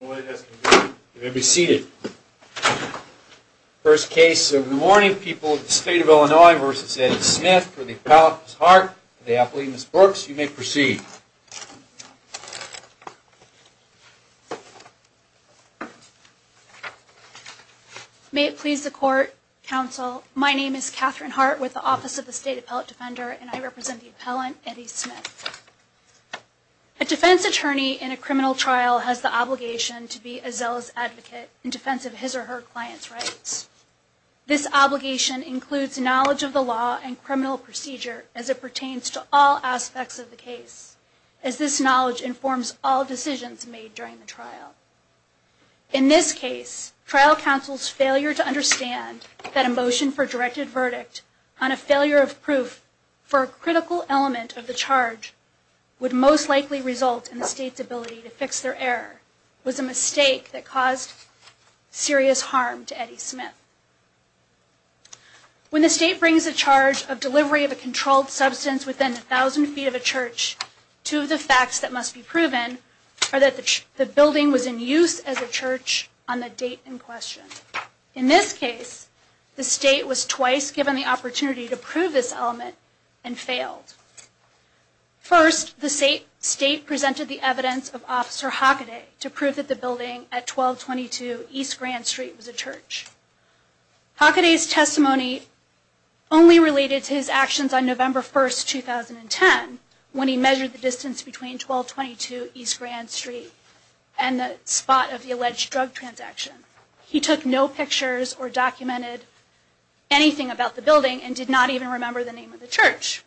You may be seated. First case of the morning, People of the State of Illinois v. Eddie Smith, for the Appellate Ms. Hart, for the Appellate Ms. Brooks, you may proceed. May it please the Court, Counsel, my name is Katherine Hart with the Office of the State Appellate Defender, and I represent the Appellant, Eddie Smith. A defense attorney in a criminal trial has the obligation to be a zealous advocate in defense of his or her client's rights. This obligation includes knowledge of the law and criminal procedure as it pertains to all aspects of the case, as this knowledge informs all decisions made during the trial. In this case, trial counsel's failure to understand that a motion for a directed verdict on a failure of proof for a critical element of the charge would most likely result in the State's ability to fix their error was a mistake that caused serious harm to Eddie Smith. When the State brings a charge of delivery of a controlled substance within 1,000 feet of a church, two of the facts that must be proven are that the building was in use as a church on the date in question. In this case, the State was twice given the opportunity to prove this element and failed. First, the State presented the evidence of Officer Hockaday to prove that the building at 1222 East Grand Street was a church. Hockaday's testimony only related to his actions on November 1, 2010, when he measured the distance between 1222 East Grand Street and the spot of the alleged drug transaction. He took no pictures or documented anything about the building and did not even remember the name of the church.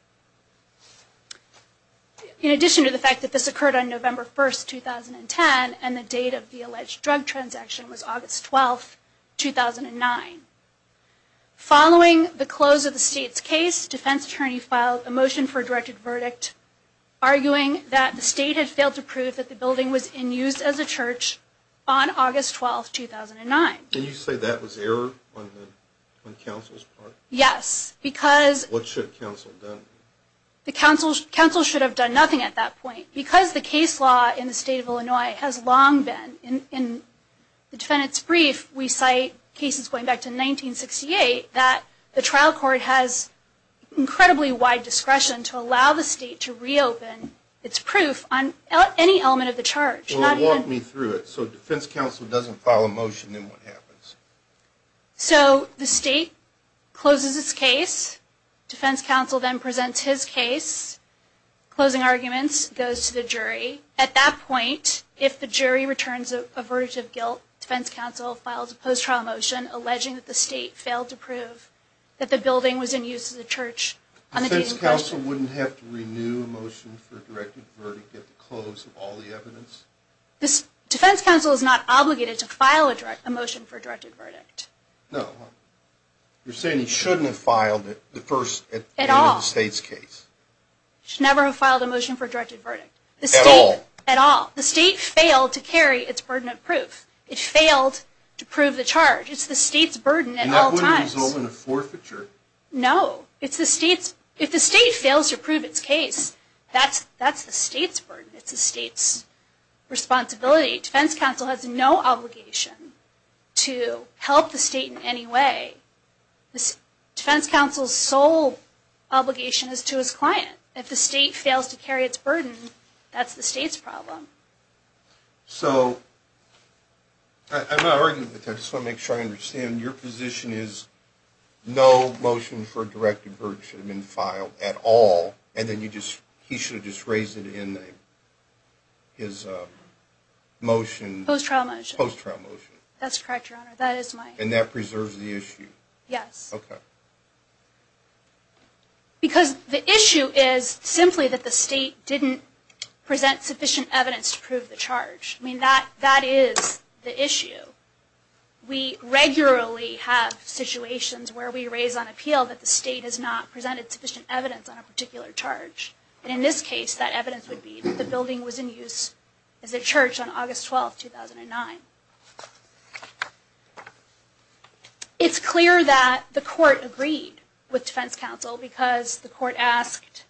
In addition to the fact that this occurred on November 1, 2010 and the date of the alleged drug transaction was August 12, 2009. Following the close of the State's case, defense attorneys filed a motion for a directed verdict arguing that the State had failed to prove that the building was in use as a church on August 12, 2009. Can you say that was error on counsel's part? Yes, because... What should counsel have done? The counsel should have done nothing at that point. Because the case law in the State of Illinois has long been in the defendant's brief, we cite cases going back to 1968, that the trial court has incredibly wide discretion to allow the State to reopen its proof on any element of the charge. Walk me through it. So defense counsel doesn't file a motion, then what happens? So the State closes its case, defense counsel then presents his case, closing arguments, goes to the jury. At that point, if the jury returns a verdict of guilt, defense counsel files a post-trial motion alleging that the State failed to prove that the building was in use as a church. Defense counsel wouldn't have to renew a motion for a directed verdict to close all the evidence? Defense counsel is not obligated to file a motion for a directed verdict. No. You're saying he shouldn't have filed it at the end of the State's case? He should never have filed a motion for a directed verdict. At all? At all. The State failed to carry its burden of proof. It failed to prove the charge. It's the State's burden at all times. And that wouldn't have been a forfeiture? No. If the State fails to prove its case, that's the State's burden. It's the State's responsibility. Defense counsel has no obligation to help the State in any way. Defense counsel's sole obligation is to his client. If the State fails to carry its burden, that's the State's problem. So, I'm not arguing, but I just want to make sure I understand. Your position is no motion for a directed verdict should have been filed at all, and then he should have just raised it in his motion? Post-trial motion. Post-trial motion. That's correct, Your Honor. That is my... And that preserves the issue? Yes. Okay. Because the issue is simply that the State didn't present sufficient evidence to prove the charge. I mean, that is the issue. We regularly have situations where we raise on appeal that the State has not presented sufficient evidence on a particular charge. And in this case, that evidence would be that the building was in use as a church on August 12, 2009. It's clear that the court agreed with defense counsel because the court asked,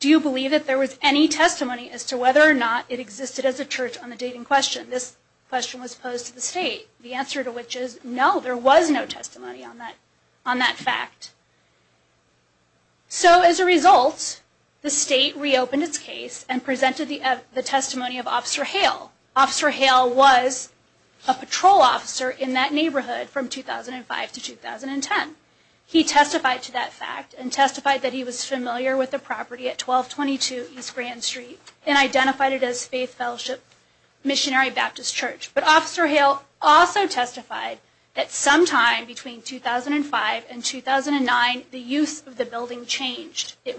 do you believe that there was any testimony as to whether or not it existed as a church on the date in question? This question was posed to the State. The answer to which is, no, there was no testimony on that fact. So, as a result, the State reopened its case and presented the testimony of Officer Hale. Officer Hale was a patrol officer in that neighborhood from 2005 to 2010. He testified to that fact and testified that he was familiar with the property at 1222 East Grand Street and identified it as Faith Fellowship Missionary Baptist Church. But Officer Hale also testified that sometime between 2005 and 2009, the use of the building changed. He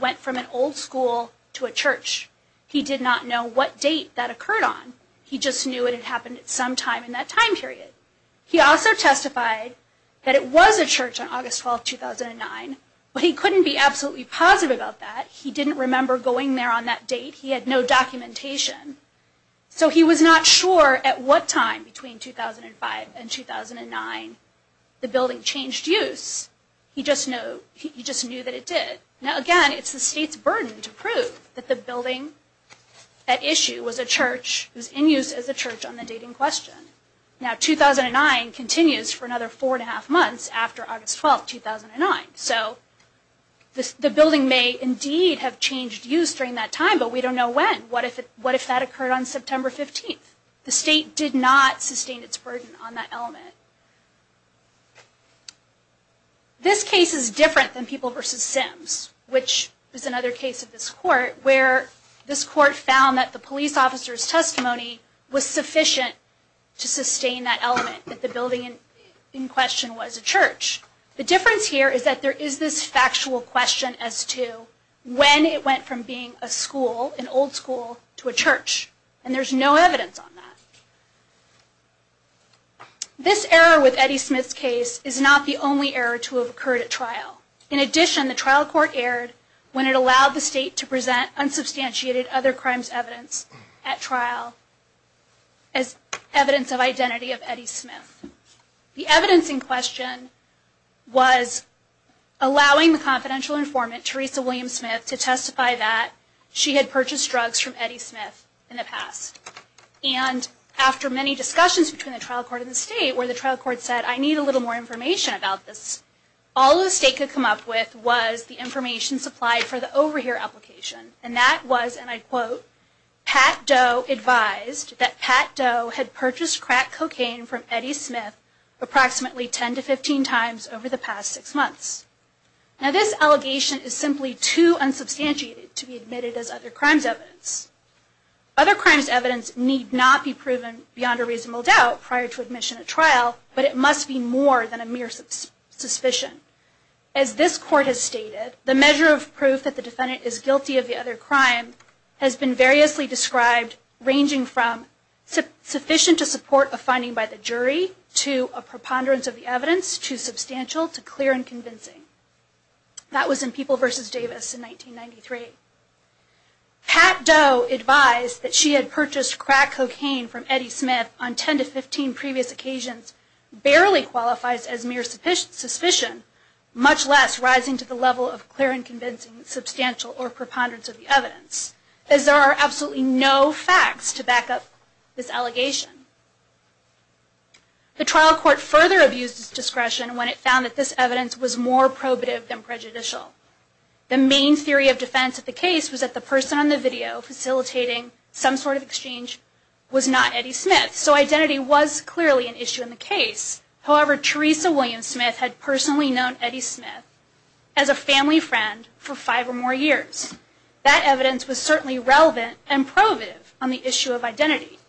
did not know what date that occurred on. He just knew it had happened at some time in that time period. He also testified that it was a church on August 12, 2009, but he couldn't be absolutely positive about that. He didn't remember going there on that date. He had no documentation. So he was not sure at what time between 2005 and 2009 the building changed use. He just knew that it did. Now again, it's the State's burden to prove that the building at issue was a church, was in use as a church on the date in question. Now 2009 continues for another four and a half months after August 12, 2009. So the building may indeed have changed use during that time, but we don't know when. What if that occurred on September 15th? The State did not sustain its burden on that element. This case is different than People v. Sims, which is another case of this court, where this court found that the police officer's testimony was sufficient to sustain that element, that the building in question was a church. The difference here is that there is this factual question as to when it went from being a school, an old school, to a church, and there's no evidence on that. This error with Eddie Smith's case is not the only error to have occurred at trial. In addition, the trial court erred when it allowed the State to present unsubstantiated other crimes evidence at trial as evidence of identity of Eddie Smith. The evidence in question was allowing the confidential informant, Teresa Williams Smith, to testify that she had purchased drugs from Eddie Smith in the past. And after many discussions between the trial court and the State, where the trial court said, I need a little more information about this, all the State could come up with was the information supplied for the overhear application, and that was, and I quote, Pat Doe advised that Pat Doe had purchased crack cocaine from Eddie Smith approximately 10 to 15 times over the past six months. Now this allegation is simply too unsubstantiated to be admitted as other crimes evidence. Other crimes evidence need not be proven beyond a reasonable doubt prior to admission at trial, but it must be more than a mere suspicion. As this court has stated, the measure of proof that the defendant is guilty of the other crime has been variously described, ranging from sufficient to support a finding by the jury, to a preponderance of the evidence, to substantial, to clear and convincing. That was in People v. Davis in 1993. Pat Doe advised that she had purchased crack cocaine from Eddie Smith on 10 to 15 previous occasions barely qualifies as mere suspicion, much less rising to the level of clear and convincing, substantial, or preponderance of the evidence, as there are absolutely no facts to back up this allegation. The trial court further abused its discretion when it found that this evidence was more probative than prejudicial. The main theory of defense of the case was that the person on the video facilitating some sort of exchange was not Eddie Smith, so identity was clearly an issue in the case. However, Teresa Williams Smith had personally known Eddie Smith as a family friend for five or more years. That evidence was certainly relevant and probative on the issue of identity,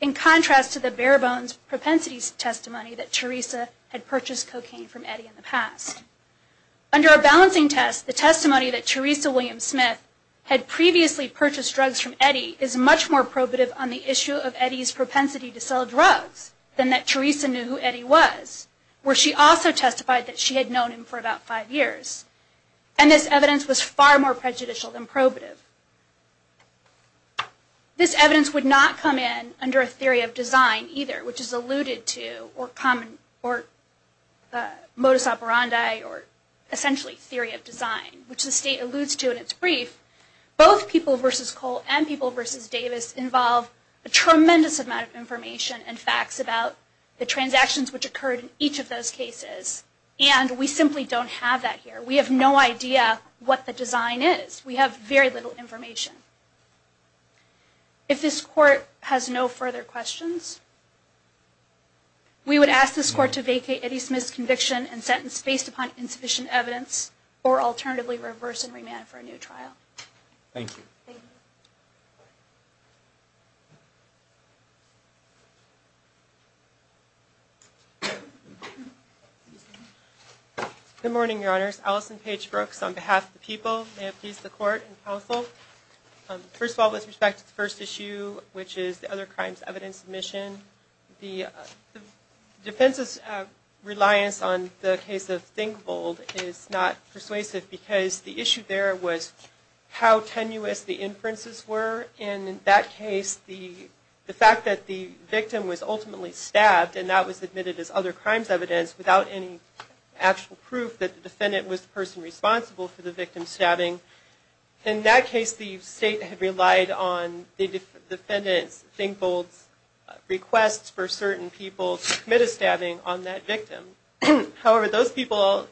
in contrast to the bare-bones propensity testimony that Teresa had purchased cocaine from Eddie in the past. Under a balancing test, the testimony that Teresa Williams Smith had previously purchased drugs from Eddie is much more probative on the issue of Eddie's propensity to sell drugs than that Teresa knew who Eddie was, where she also testified that she had known him for about five years. And this evidence was far more prejudicial than probative. This evidence would not come in under a theory of design either, which is alluded to, or common, or modus operandi, or essentially theory of design, which the state alludes to in its brief. Both People v. Cole and People v. Davis involve a tremendous amount of information and facts about the transactions which occurred in each of those cases, and we simply don't have that here. We have no idea what the design is. We have very little information. If this Court has no further questions, we would ask this Court to vacate Eddie Smith's conviction and sentence based upon insufficient evidence, or alternatively reverse and remand for a new trial. Thank you. Good morning, Your Honors. Allison Page Brooks on behalf of the People, may it please the Court and Counsel. First of all, with respect to the first issue, which is the other crimes evidence submission, the defense's reliance on the case of Thingvold is not persuasive, because the issue there was how tenuous the inferences were. And in that case, the fact that the victim was ultimately stabbed, and that was admitted as other crimes evidence without any actual proof that the defendant was the person responsible for the victim's stabbing. In that case, the State had relied on the defendant's, Thingvold's, requests for certain people to commit a stabbing on that victim. However, those people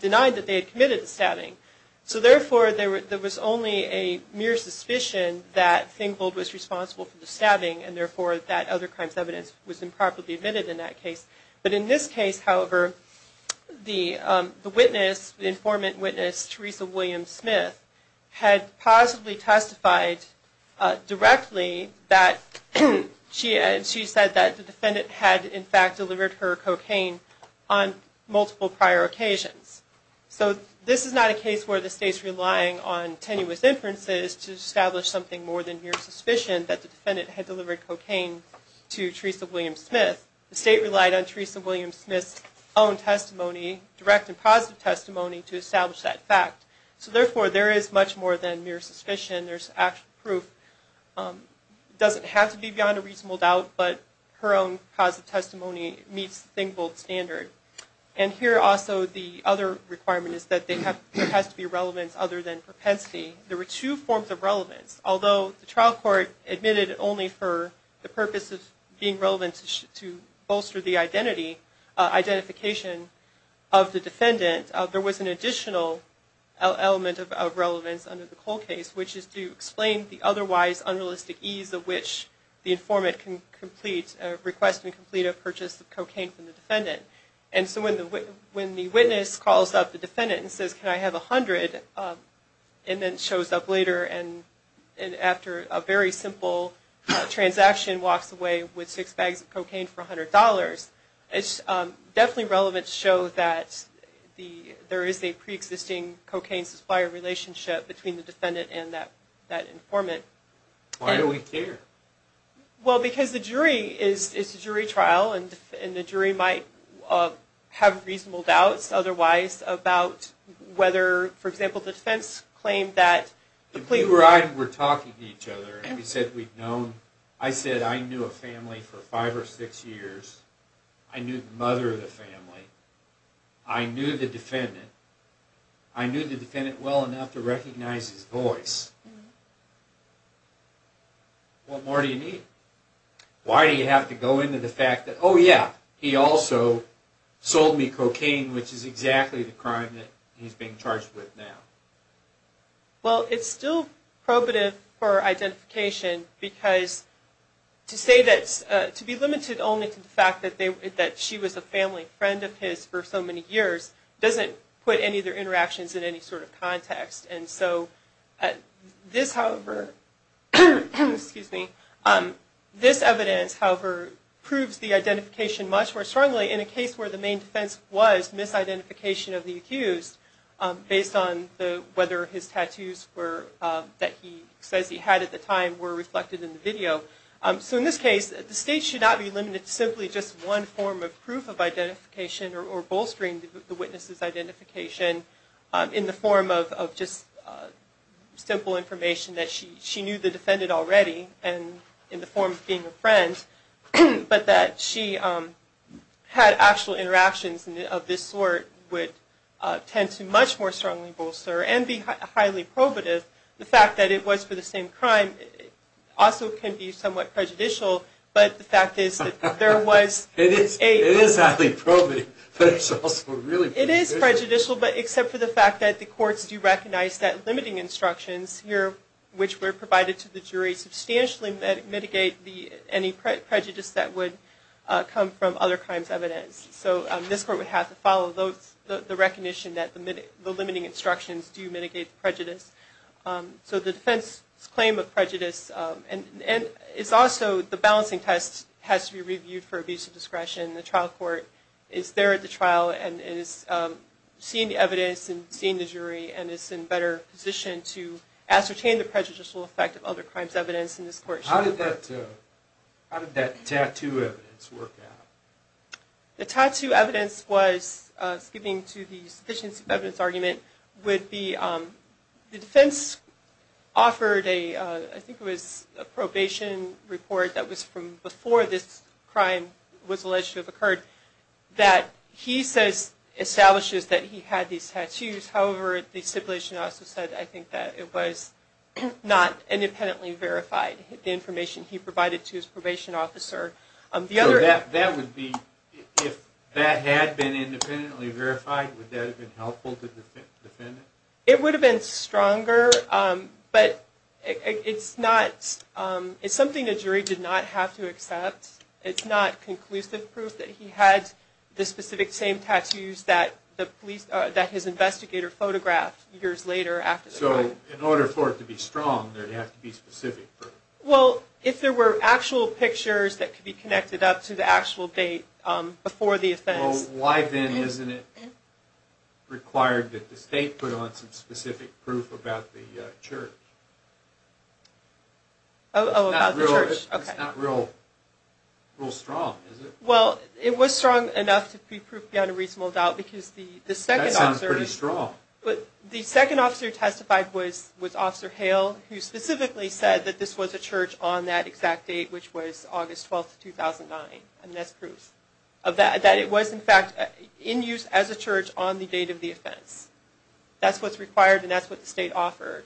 denied that they had committed the stabbing. So therefore, there was only a mere suspicion that Thingvold was responsible for the stabbing, and therefore that other crimes evidence was improperly admitted in that case. But in this case, however, the witness, the informant witness, Teresa Williams-Smith, had positively testified directly that she said that the defendant had in fact delivered her cocaine on multiple prior occasions. So this is not a case where the State's relying on tenuous inferences to establish something more than mere suspicion that the defendant had delivered cocaine to Teresa Williams-Smith. The State relied on Teresa Williams-Smith's own testimony, direct and positive testimony, to establish that fact. So therefore, there is much more than mere suspicion. There's actual proof. It doesn't have to be beyond a reasonable doubt, but her own positive testimony meets the Thingvold standard. And here also, the other requirement is that there has to be relevance other than propensity. There were two forms of relevance. Although the trial court admitted only for the purpose of being relevant to bolster the identity, identification of the defendant, there was an additional element of relevance under the Cole case, which is to explain the otherwise unrealistic ease of which the informant can complete, request and complete a purchase of cocaine from the defendant. And so when the witness calls up the defendant and says, can I have $100, and then shows up later and after a very simple transaction, walks away with six bags of cocaine for $100, it's definitely relevant to show that there is a preexisting cocaine supplier relationship between the defendant and that informant. Why do we care? Well, because the jury is a jury trial, and the jury might have reasonable doubts otherwise about whether, for example, the defense claimed that... If we were talking to each other and we said we'd known... I said I knew a family for five or six years. I knew the mother of the family. I knew the defendant. I knew the defendant well enough to recognize his voice. What more do you need? Why do you have to go into the fact that, oh yeah, he also sold me cocaine, which is exactly the crime that he's being charged with now? Well, it's still probative for identification because to say that... to be limited only to the fact that she was a family friend of his for so many years doesn't put any of their interactions in any sort of context. And so this evidence, however, proves the identification much more strongly in a case where the main defense was misidentification of the accused based on whether his tattoos that he says he had at the time were reflected in the video. So in this case, the state should not be limited to simply just one form of proof of identification or bolstering the witness's identification in the form of just simple information that she knew the defendant already and in the form of being a friend, but that she had actual interactions of this sort would tend to much more strongly bolster and be highly probative. The fact that it was for the same crime also can be somewhat prejudicial, but the fact is that there was a... It is highly probative, but it's also really prejudicial. It is prejudicial, except for the fact that the courts do recognize that limiting instructions here, which were provided to the jury, substantially mitigate any prejudice that would come from other crimes' evidence. So this court would have to follow the recognition that the limiting instructions do mitigate prejudice. So the defense's claim of prejudice... It's also the balancing test has to be reviewed for abuse of discretion. The trial court is there at the trial and is seeing the evidence and seeing the jury and is in a better position to ascertain the prejudicial effect of other crimes' evidence. How did that tattoo evidence work out? The tattoo evidence was, skipping to the sufficiency of evidence argument, would be the defense offered a probation report that was from before this crime was alleged to have occurred, that he says establishes that he had these tattoos. However, the stipulation also said, I think, that it was not independently verified, the information he provided to his probation officer. So if that had been independently verified, would that have been helpful to the defendant? It would have been stronger, but it's something the jury did not have to accept. It's not conclusive proof that he had the specific same tattoos that his investigator photographed years later after the crime. So in order for it to be strong, it would have to be specific? Well, if there were actual pictures that could be connected up to the actual date before the offense. Well, why then isn't it required that the state put on some specific proof about the church? Oh, about the church. It's not real strong, is it? Well, it was strong enough to be proof beyond a reasonable doubt. That sounds pretty strong. But the second officer who testified was Officer Hale, who specifically said that this was a church on that exact date, which was August 12, 2009. And that's proof that it was, in fact, in use as a church on the date of the offense. That's what's required, and that's what the state offered.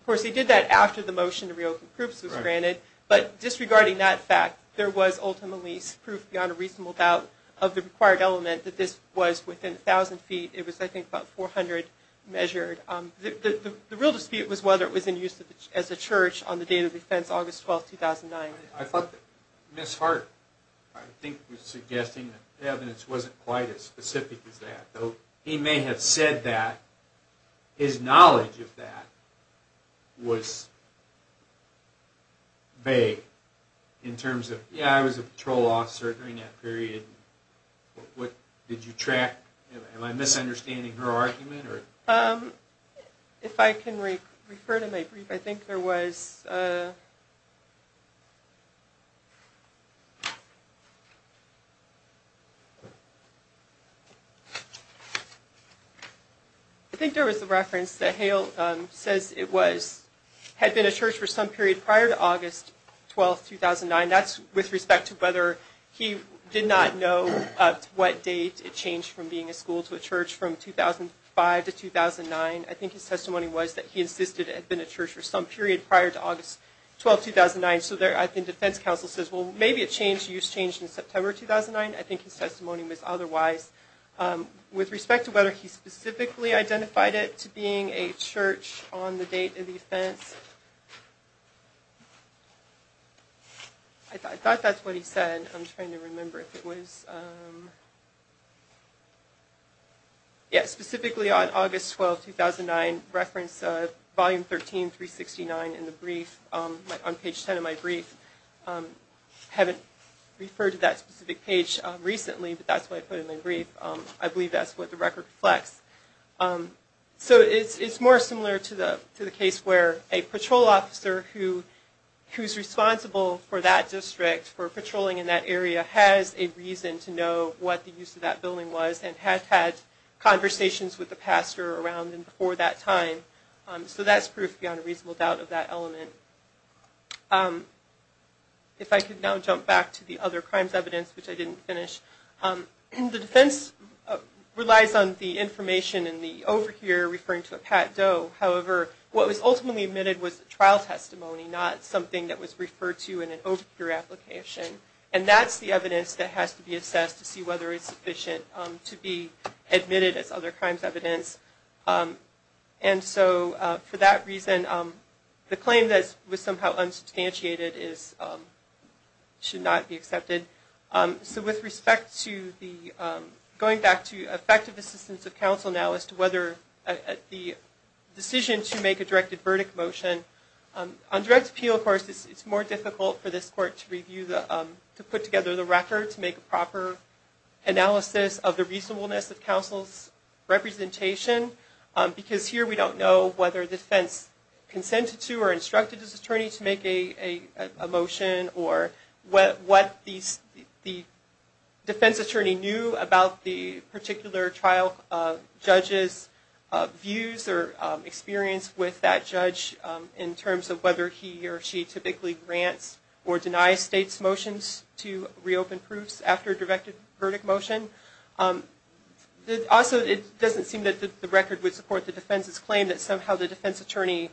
Of course, he did that after the motion to reopen proofs was granted, but disregarding that fact, there was ultimately proof beyond a reasonable doubt of the required element that this was within 1,000 feet. It was, I think, about 400 measured. The real dispute was whether it was in use as a church on the date of the offense, August 12, 2009. I thought that Ms. Hart, I think, was suggesting that the evidence wasn't quite as specific as that, though he may have said that his knowledge of that was vague in terms of, yeah, I was a patrol officer during that period. Am I misunderstanding her argument? If I can refer to my brief, I think there was... I think there was a reference that Hale says it was, had been a church for some period prior to August 12, 2009. That's with respect to whether he did not know what date it changed from being a school to a church from 2005 to 2009. I think his testimony was that he insisted it had been a church for some period prior to August 12, 2009. So I think the defense counsel says, well, maybe it changed. I think it was changed in September 2009. I think his testimony was otherwise. With respect to whether he specifically identified it to being a church on the date of the offense, I thought that's what he said. I'm trying to remember if it was... Yeah, specifically on August 12, 2009, reference volume 13, 369 in the brief, on page 10 of my brief. I haven't referred to that specific page recently, but that's what I put in the brief. I believe that's what the record reflects. It's more similar to the case where a patrol officer who's responsible for that district, for patrolling in that area, has a reason to know what the use of that building was and had had conversations with the pastor around and before that time. So that's proof beyond a reasonable doubt of that element. If I could now jump back to the other crimes evidence, which I didn't finish. The defense relies on the information in the overhear referring to a pat dough. However, what was ultimately admitted was a trial testimony, not something that was referred to in an overhear application. And that's the evidence that has to be assessed to see whether it's sufficient to be admitted as other crimes evidence. For that reason, the claim that was somehow unsubstantiated should not be accepted. Going back to effective assistance of counsel now as to whether the decision to make a directed verdict motion, on direct appeal, of course, it's more difficult for this court to review, to put together the record to make a proper analysis of the reasonableness of counsel's representation. Because here we don't know whether defense consented to or instructed this attorney to make a motion or what the defense attorney knew about the particular trial judge's views or experience with that judge in terms of whether he or she typically grants or denies state's motions to reopen proofs after a directed verdict motion. Also, it doesn't seem that the record would support the defense's claim that somehow the defense attorney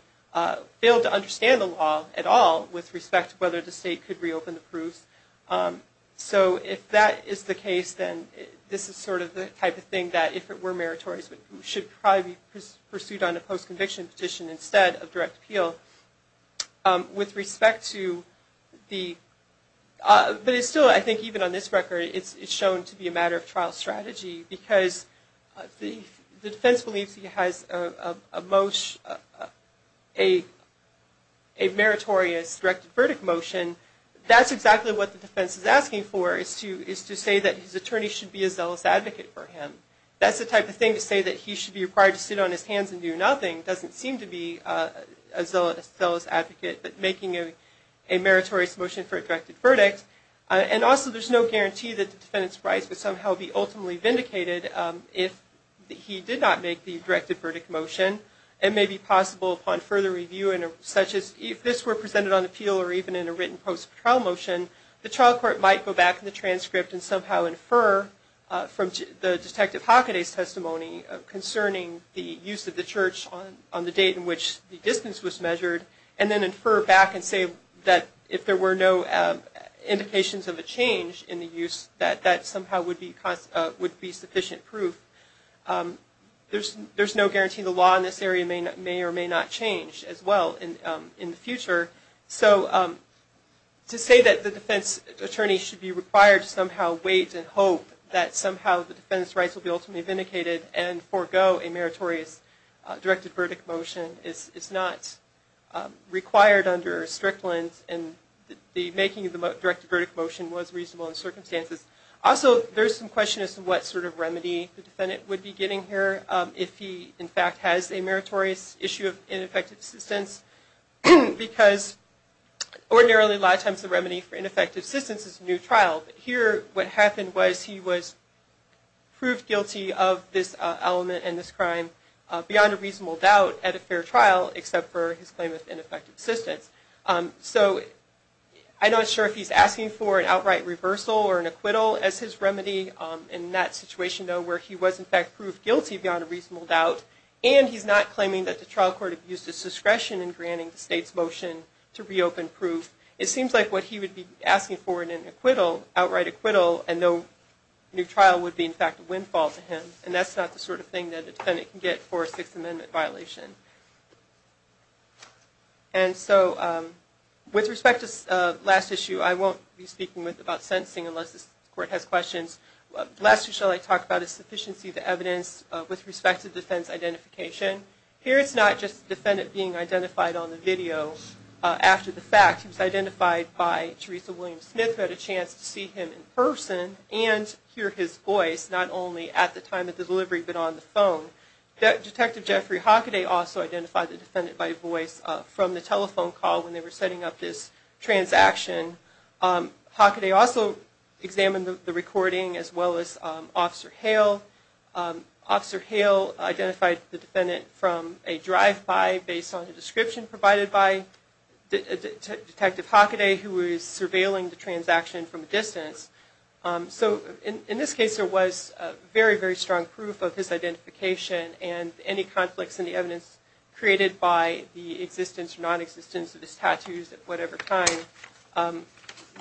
failed to understand the law at all with respect to whether the state could reopen the proofs. So if that is the case, then this is sort of the type of thing that if it were meritorious, it should probably be pursued on a post-conviction petition instead of direct appeal. But still, I think even on this record, it's shown to be a matter of trial strategy because the defense believes he has a meritorious directed verdict motion. That's exactly what the defense is asking for is to say that his attorney should be a zealous advocate for him. That's the type of thing to say that he should be required to sit on his hands and do nothing. Doesn't seem to be a zealous advocate, but making a meritorious motion for a directed verdict. And also, there's no guarantee that the defendant's rights would somehow be ultimately vindicated if he did not make the directed verdict motion. It may be possible upon further review, such as if this were presented on appeal or even in a written post-trial motion, the trial court might go back in the transcript and somehow infer from the Detective Hockaday's testimony concerning the use of the church on the date in which the distance was measured and then infer back and say that if there were no indications of a change in the use, that that somehow would be sufficient proof. There's no guarantee the law in this area may or may not change as well in the future. So to say that the defense attorney should be required to somehow wait and hope that somehow the defendant's rights will be ultimately vindicated and forego a meritorious directed verdict motion is not required under a strict lens and the making of the directed verdict motion was reasonable in circumstances. Also, there's some question as to what sort of remedy the defendant would be getting here if he in fact has a meritorious issue of ineffective assistance because ordinarily a lot of times the remedy for ineffective assistance is a new trial, but here what happened was he was proved guilty of this element and this crime beyond a reasonable doubt at a fair trial except for his claim of ineffective assistance. So I'm not sure if he's asking for an outright reversal or an acquittal as his remedy in that situation though where he was in fact proved guilty beyond a reasonable doubt and he's not claiming that the trial court abused his discretion in granting the state's motion to reopen proof. It seems like what he would be asking for in an acquittal, outright acquittal, and no new trial would be in fact a windfall to him and that's not the sort of thing that a defendant can get for a Sixth Amendment violation. And so with respect to the last issue I won't be speaking about sentencing unless this court has questions. The last issue I'd like to talk about is sufficiency of evidence with respect to defense identification. Here it's not just the defendant being identified on the video after the fact. He was identified by Teresa Williams-Smith who had a chance to see him in person and hear his voice not only at the time of delivery but on the phone. Detective Jeffrey Hockaday also identified the defendant by voice from the telephone call when they were setting up this transaction. Hockaday also examined the recording as well as Officer Hale. Officer Hale identified the defendant from a drive-by based on a description provided by Detective Hockaday So in this case there was very, very strong proof of his identification and any conflicts in the evidence created by the existence or non-existence of his tattoos at whatever time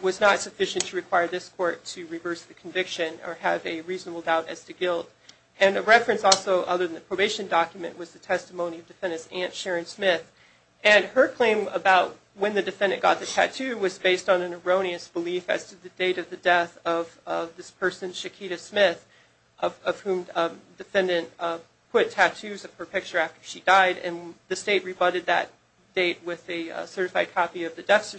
was not sufficient to require this court to reverse the conviction or have a reasonable doubt as to guilt. And a reference also other than the probation document was the testimony of the defendant's aunt, Sharon Smith. And her claim about when the defendant got the tattoo was based on an erroneous belief as to the date of the death of this person, Shakita Smith, of whom the defendant put tattoos of her picture after she died and the state rebutted that date with a certified copy of the death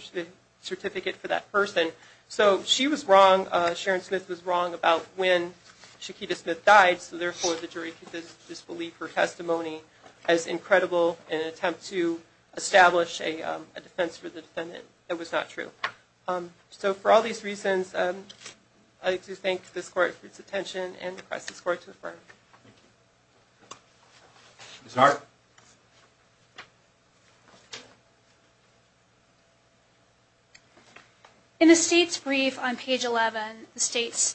certificate for that person. So she was wrong, Sharon Smith was wrong about when Shakita Smith died so therefore the jury could disbelieve her testimony as incredible in an attempt to establish a defense for the defendant that was not true. So for all these reasons I'd like to thank this court for its attention and request this court to affirm. Ms. Hart? In the state's brief on page 11, the state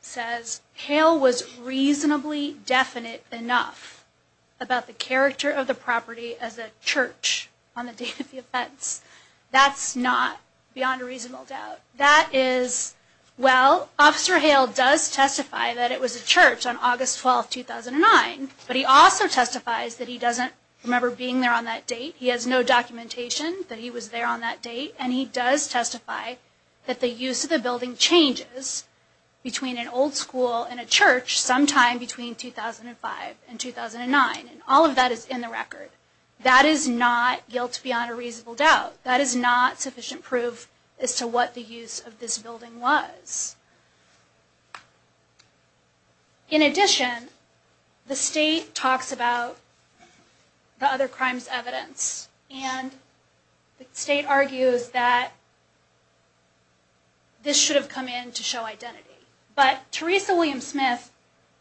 says Hale was reasonably definite enough about the character of the property as a church on the date of the offense. That's not beyond a reasonable doubt. That is, well, Officer Hale does testify that it was a church on August 12, 2009 but he also testifies that he doesn't remember being there on that date, he has no documentation that he was there on that date, and he does testify that the use of the building changes between an old school and a church sometime between 2005 and 2009. All of that is in the record. That is not guilt beyond a reasonable doubt. That is not sufficient proof as to what the use of this building was. In addition, the state talks about the other crimes' evidence and the state argues that this should have come in to show identity. But Teresa William Smith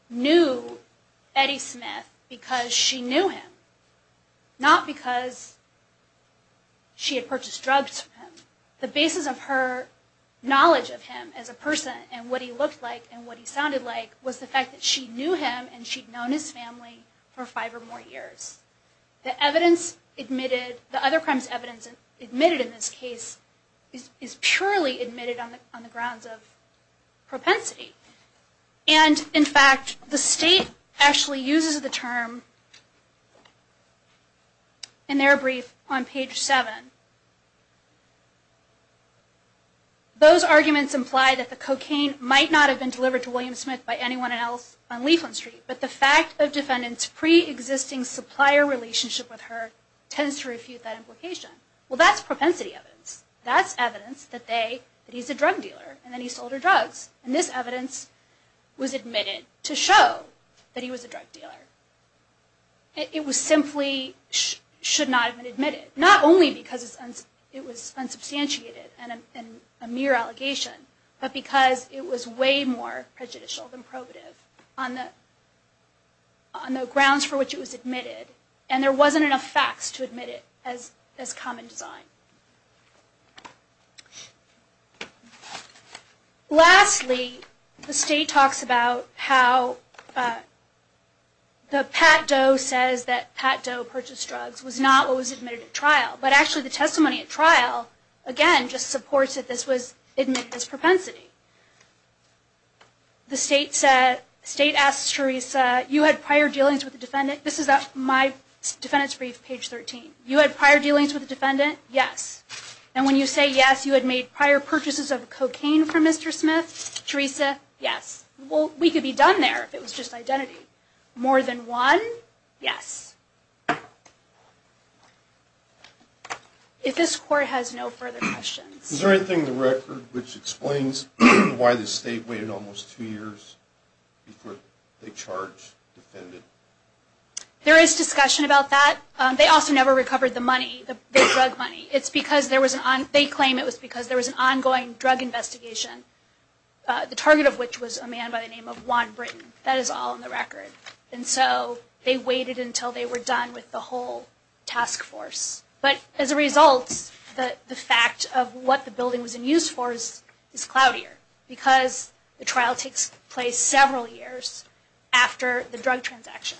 knew Betty Smith because she knew him, not because she had purchased drugs from him. The basis of her knowledge of him as a person and what he looked like and what he sounded like was the fact that she knew him and she'd known his family for five or more years. The other crimes' evidence admitted in this case is purely admitted on the grounds of propensity. And in fact, the state actually uses the term in their brief on page 7. Those arguments imply that the cocaine might not have been delivered to William Smith by anyone else on Leafland Street, but the fact that defendants' pre-existing supplier relationship with her tends to refute that implication. Well, that's propensity evidence. That's evidence that he's a drug dealer and that he sold her drugs. And this evidence was admitted to show that he was a drug dealer. It was simply should not have been admitted. Not only because it was unsubstantiated and a mere allegation, but because it was way more prejudicial than probative on the common design. Lastly, the state talks about how the Pat Doe says that Pat Doe purchased drugs was not what was admitted at trial, but actually the testimony at trial, again, just supports that this was admitted as propensity. The state asks Teresa, you had prior dealings with a defendant? This is my defendant's brief, page 13. You had prior dealings with a defendant? Yes. And when you say yes, you had made prior purchases of cocaine from Mr. Smith? Teresa? Yes. Well, we could be done there if it was just identity. More than one? Yes. If this court has no further questions. Is there anything in the record which explains why the state waited almost two years before they charged the defendant? There is discussion about that. They also never recovered the money, the drug money. They claim it was because there was an ongoing drug investigation. The target of which was a man by the name of Juan Britton. That is all in the record. And so they waited until they were done with the whole task force. But as a result, the fact of what the building was in use for is cloudier because the trial takes place several years after the drug transaction.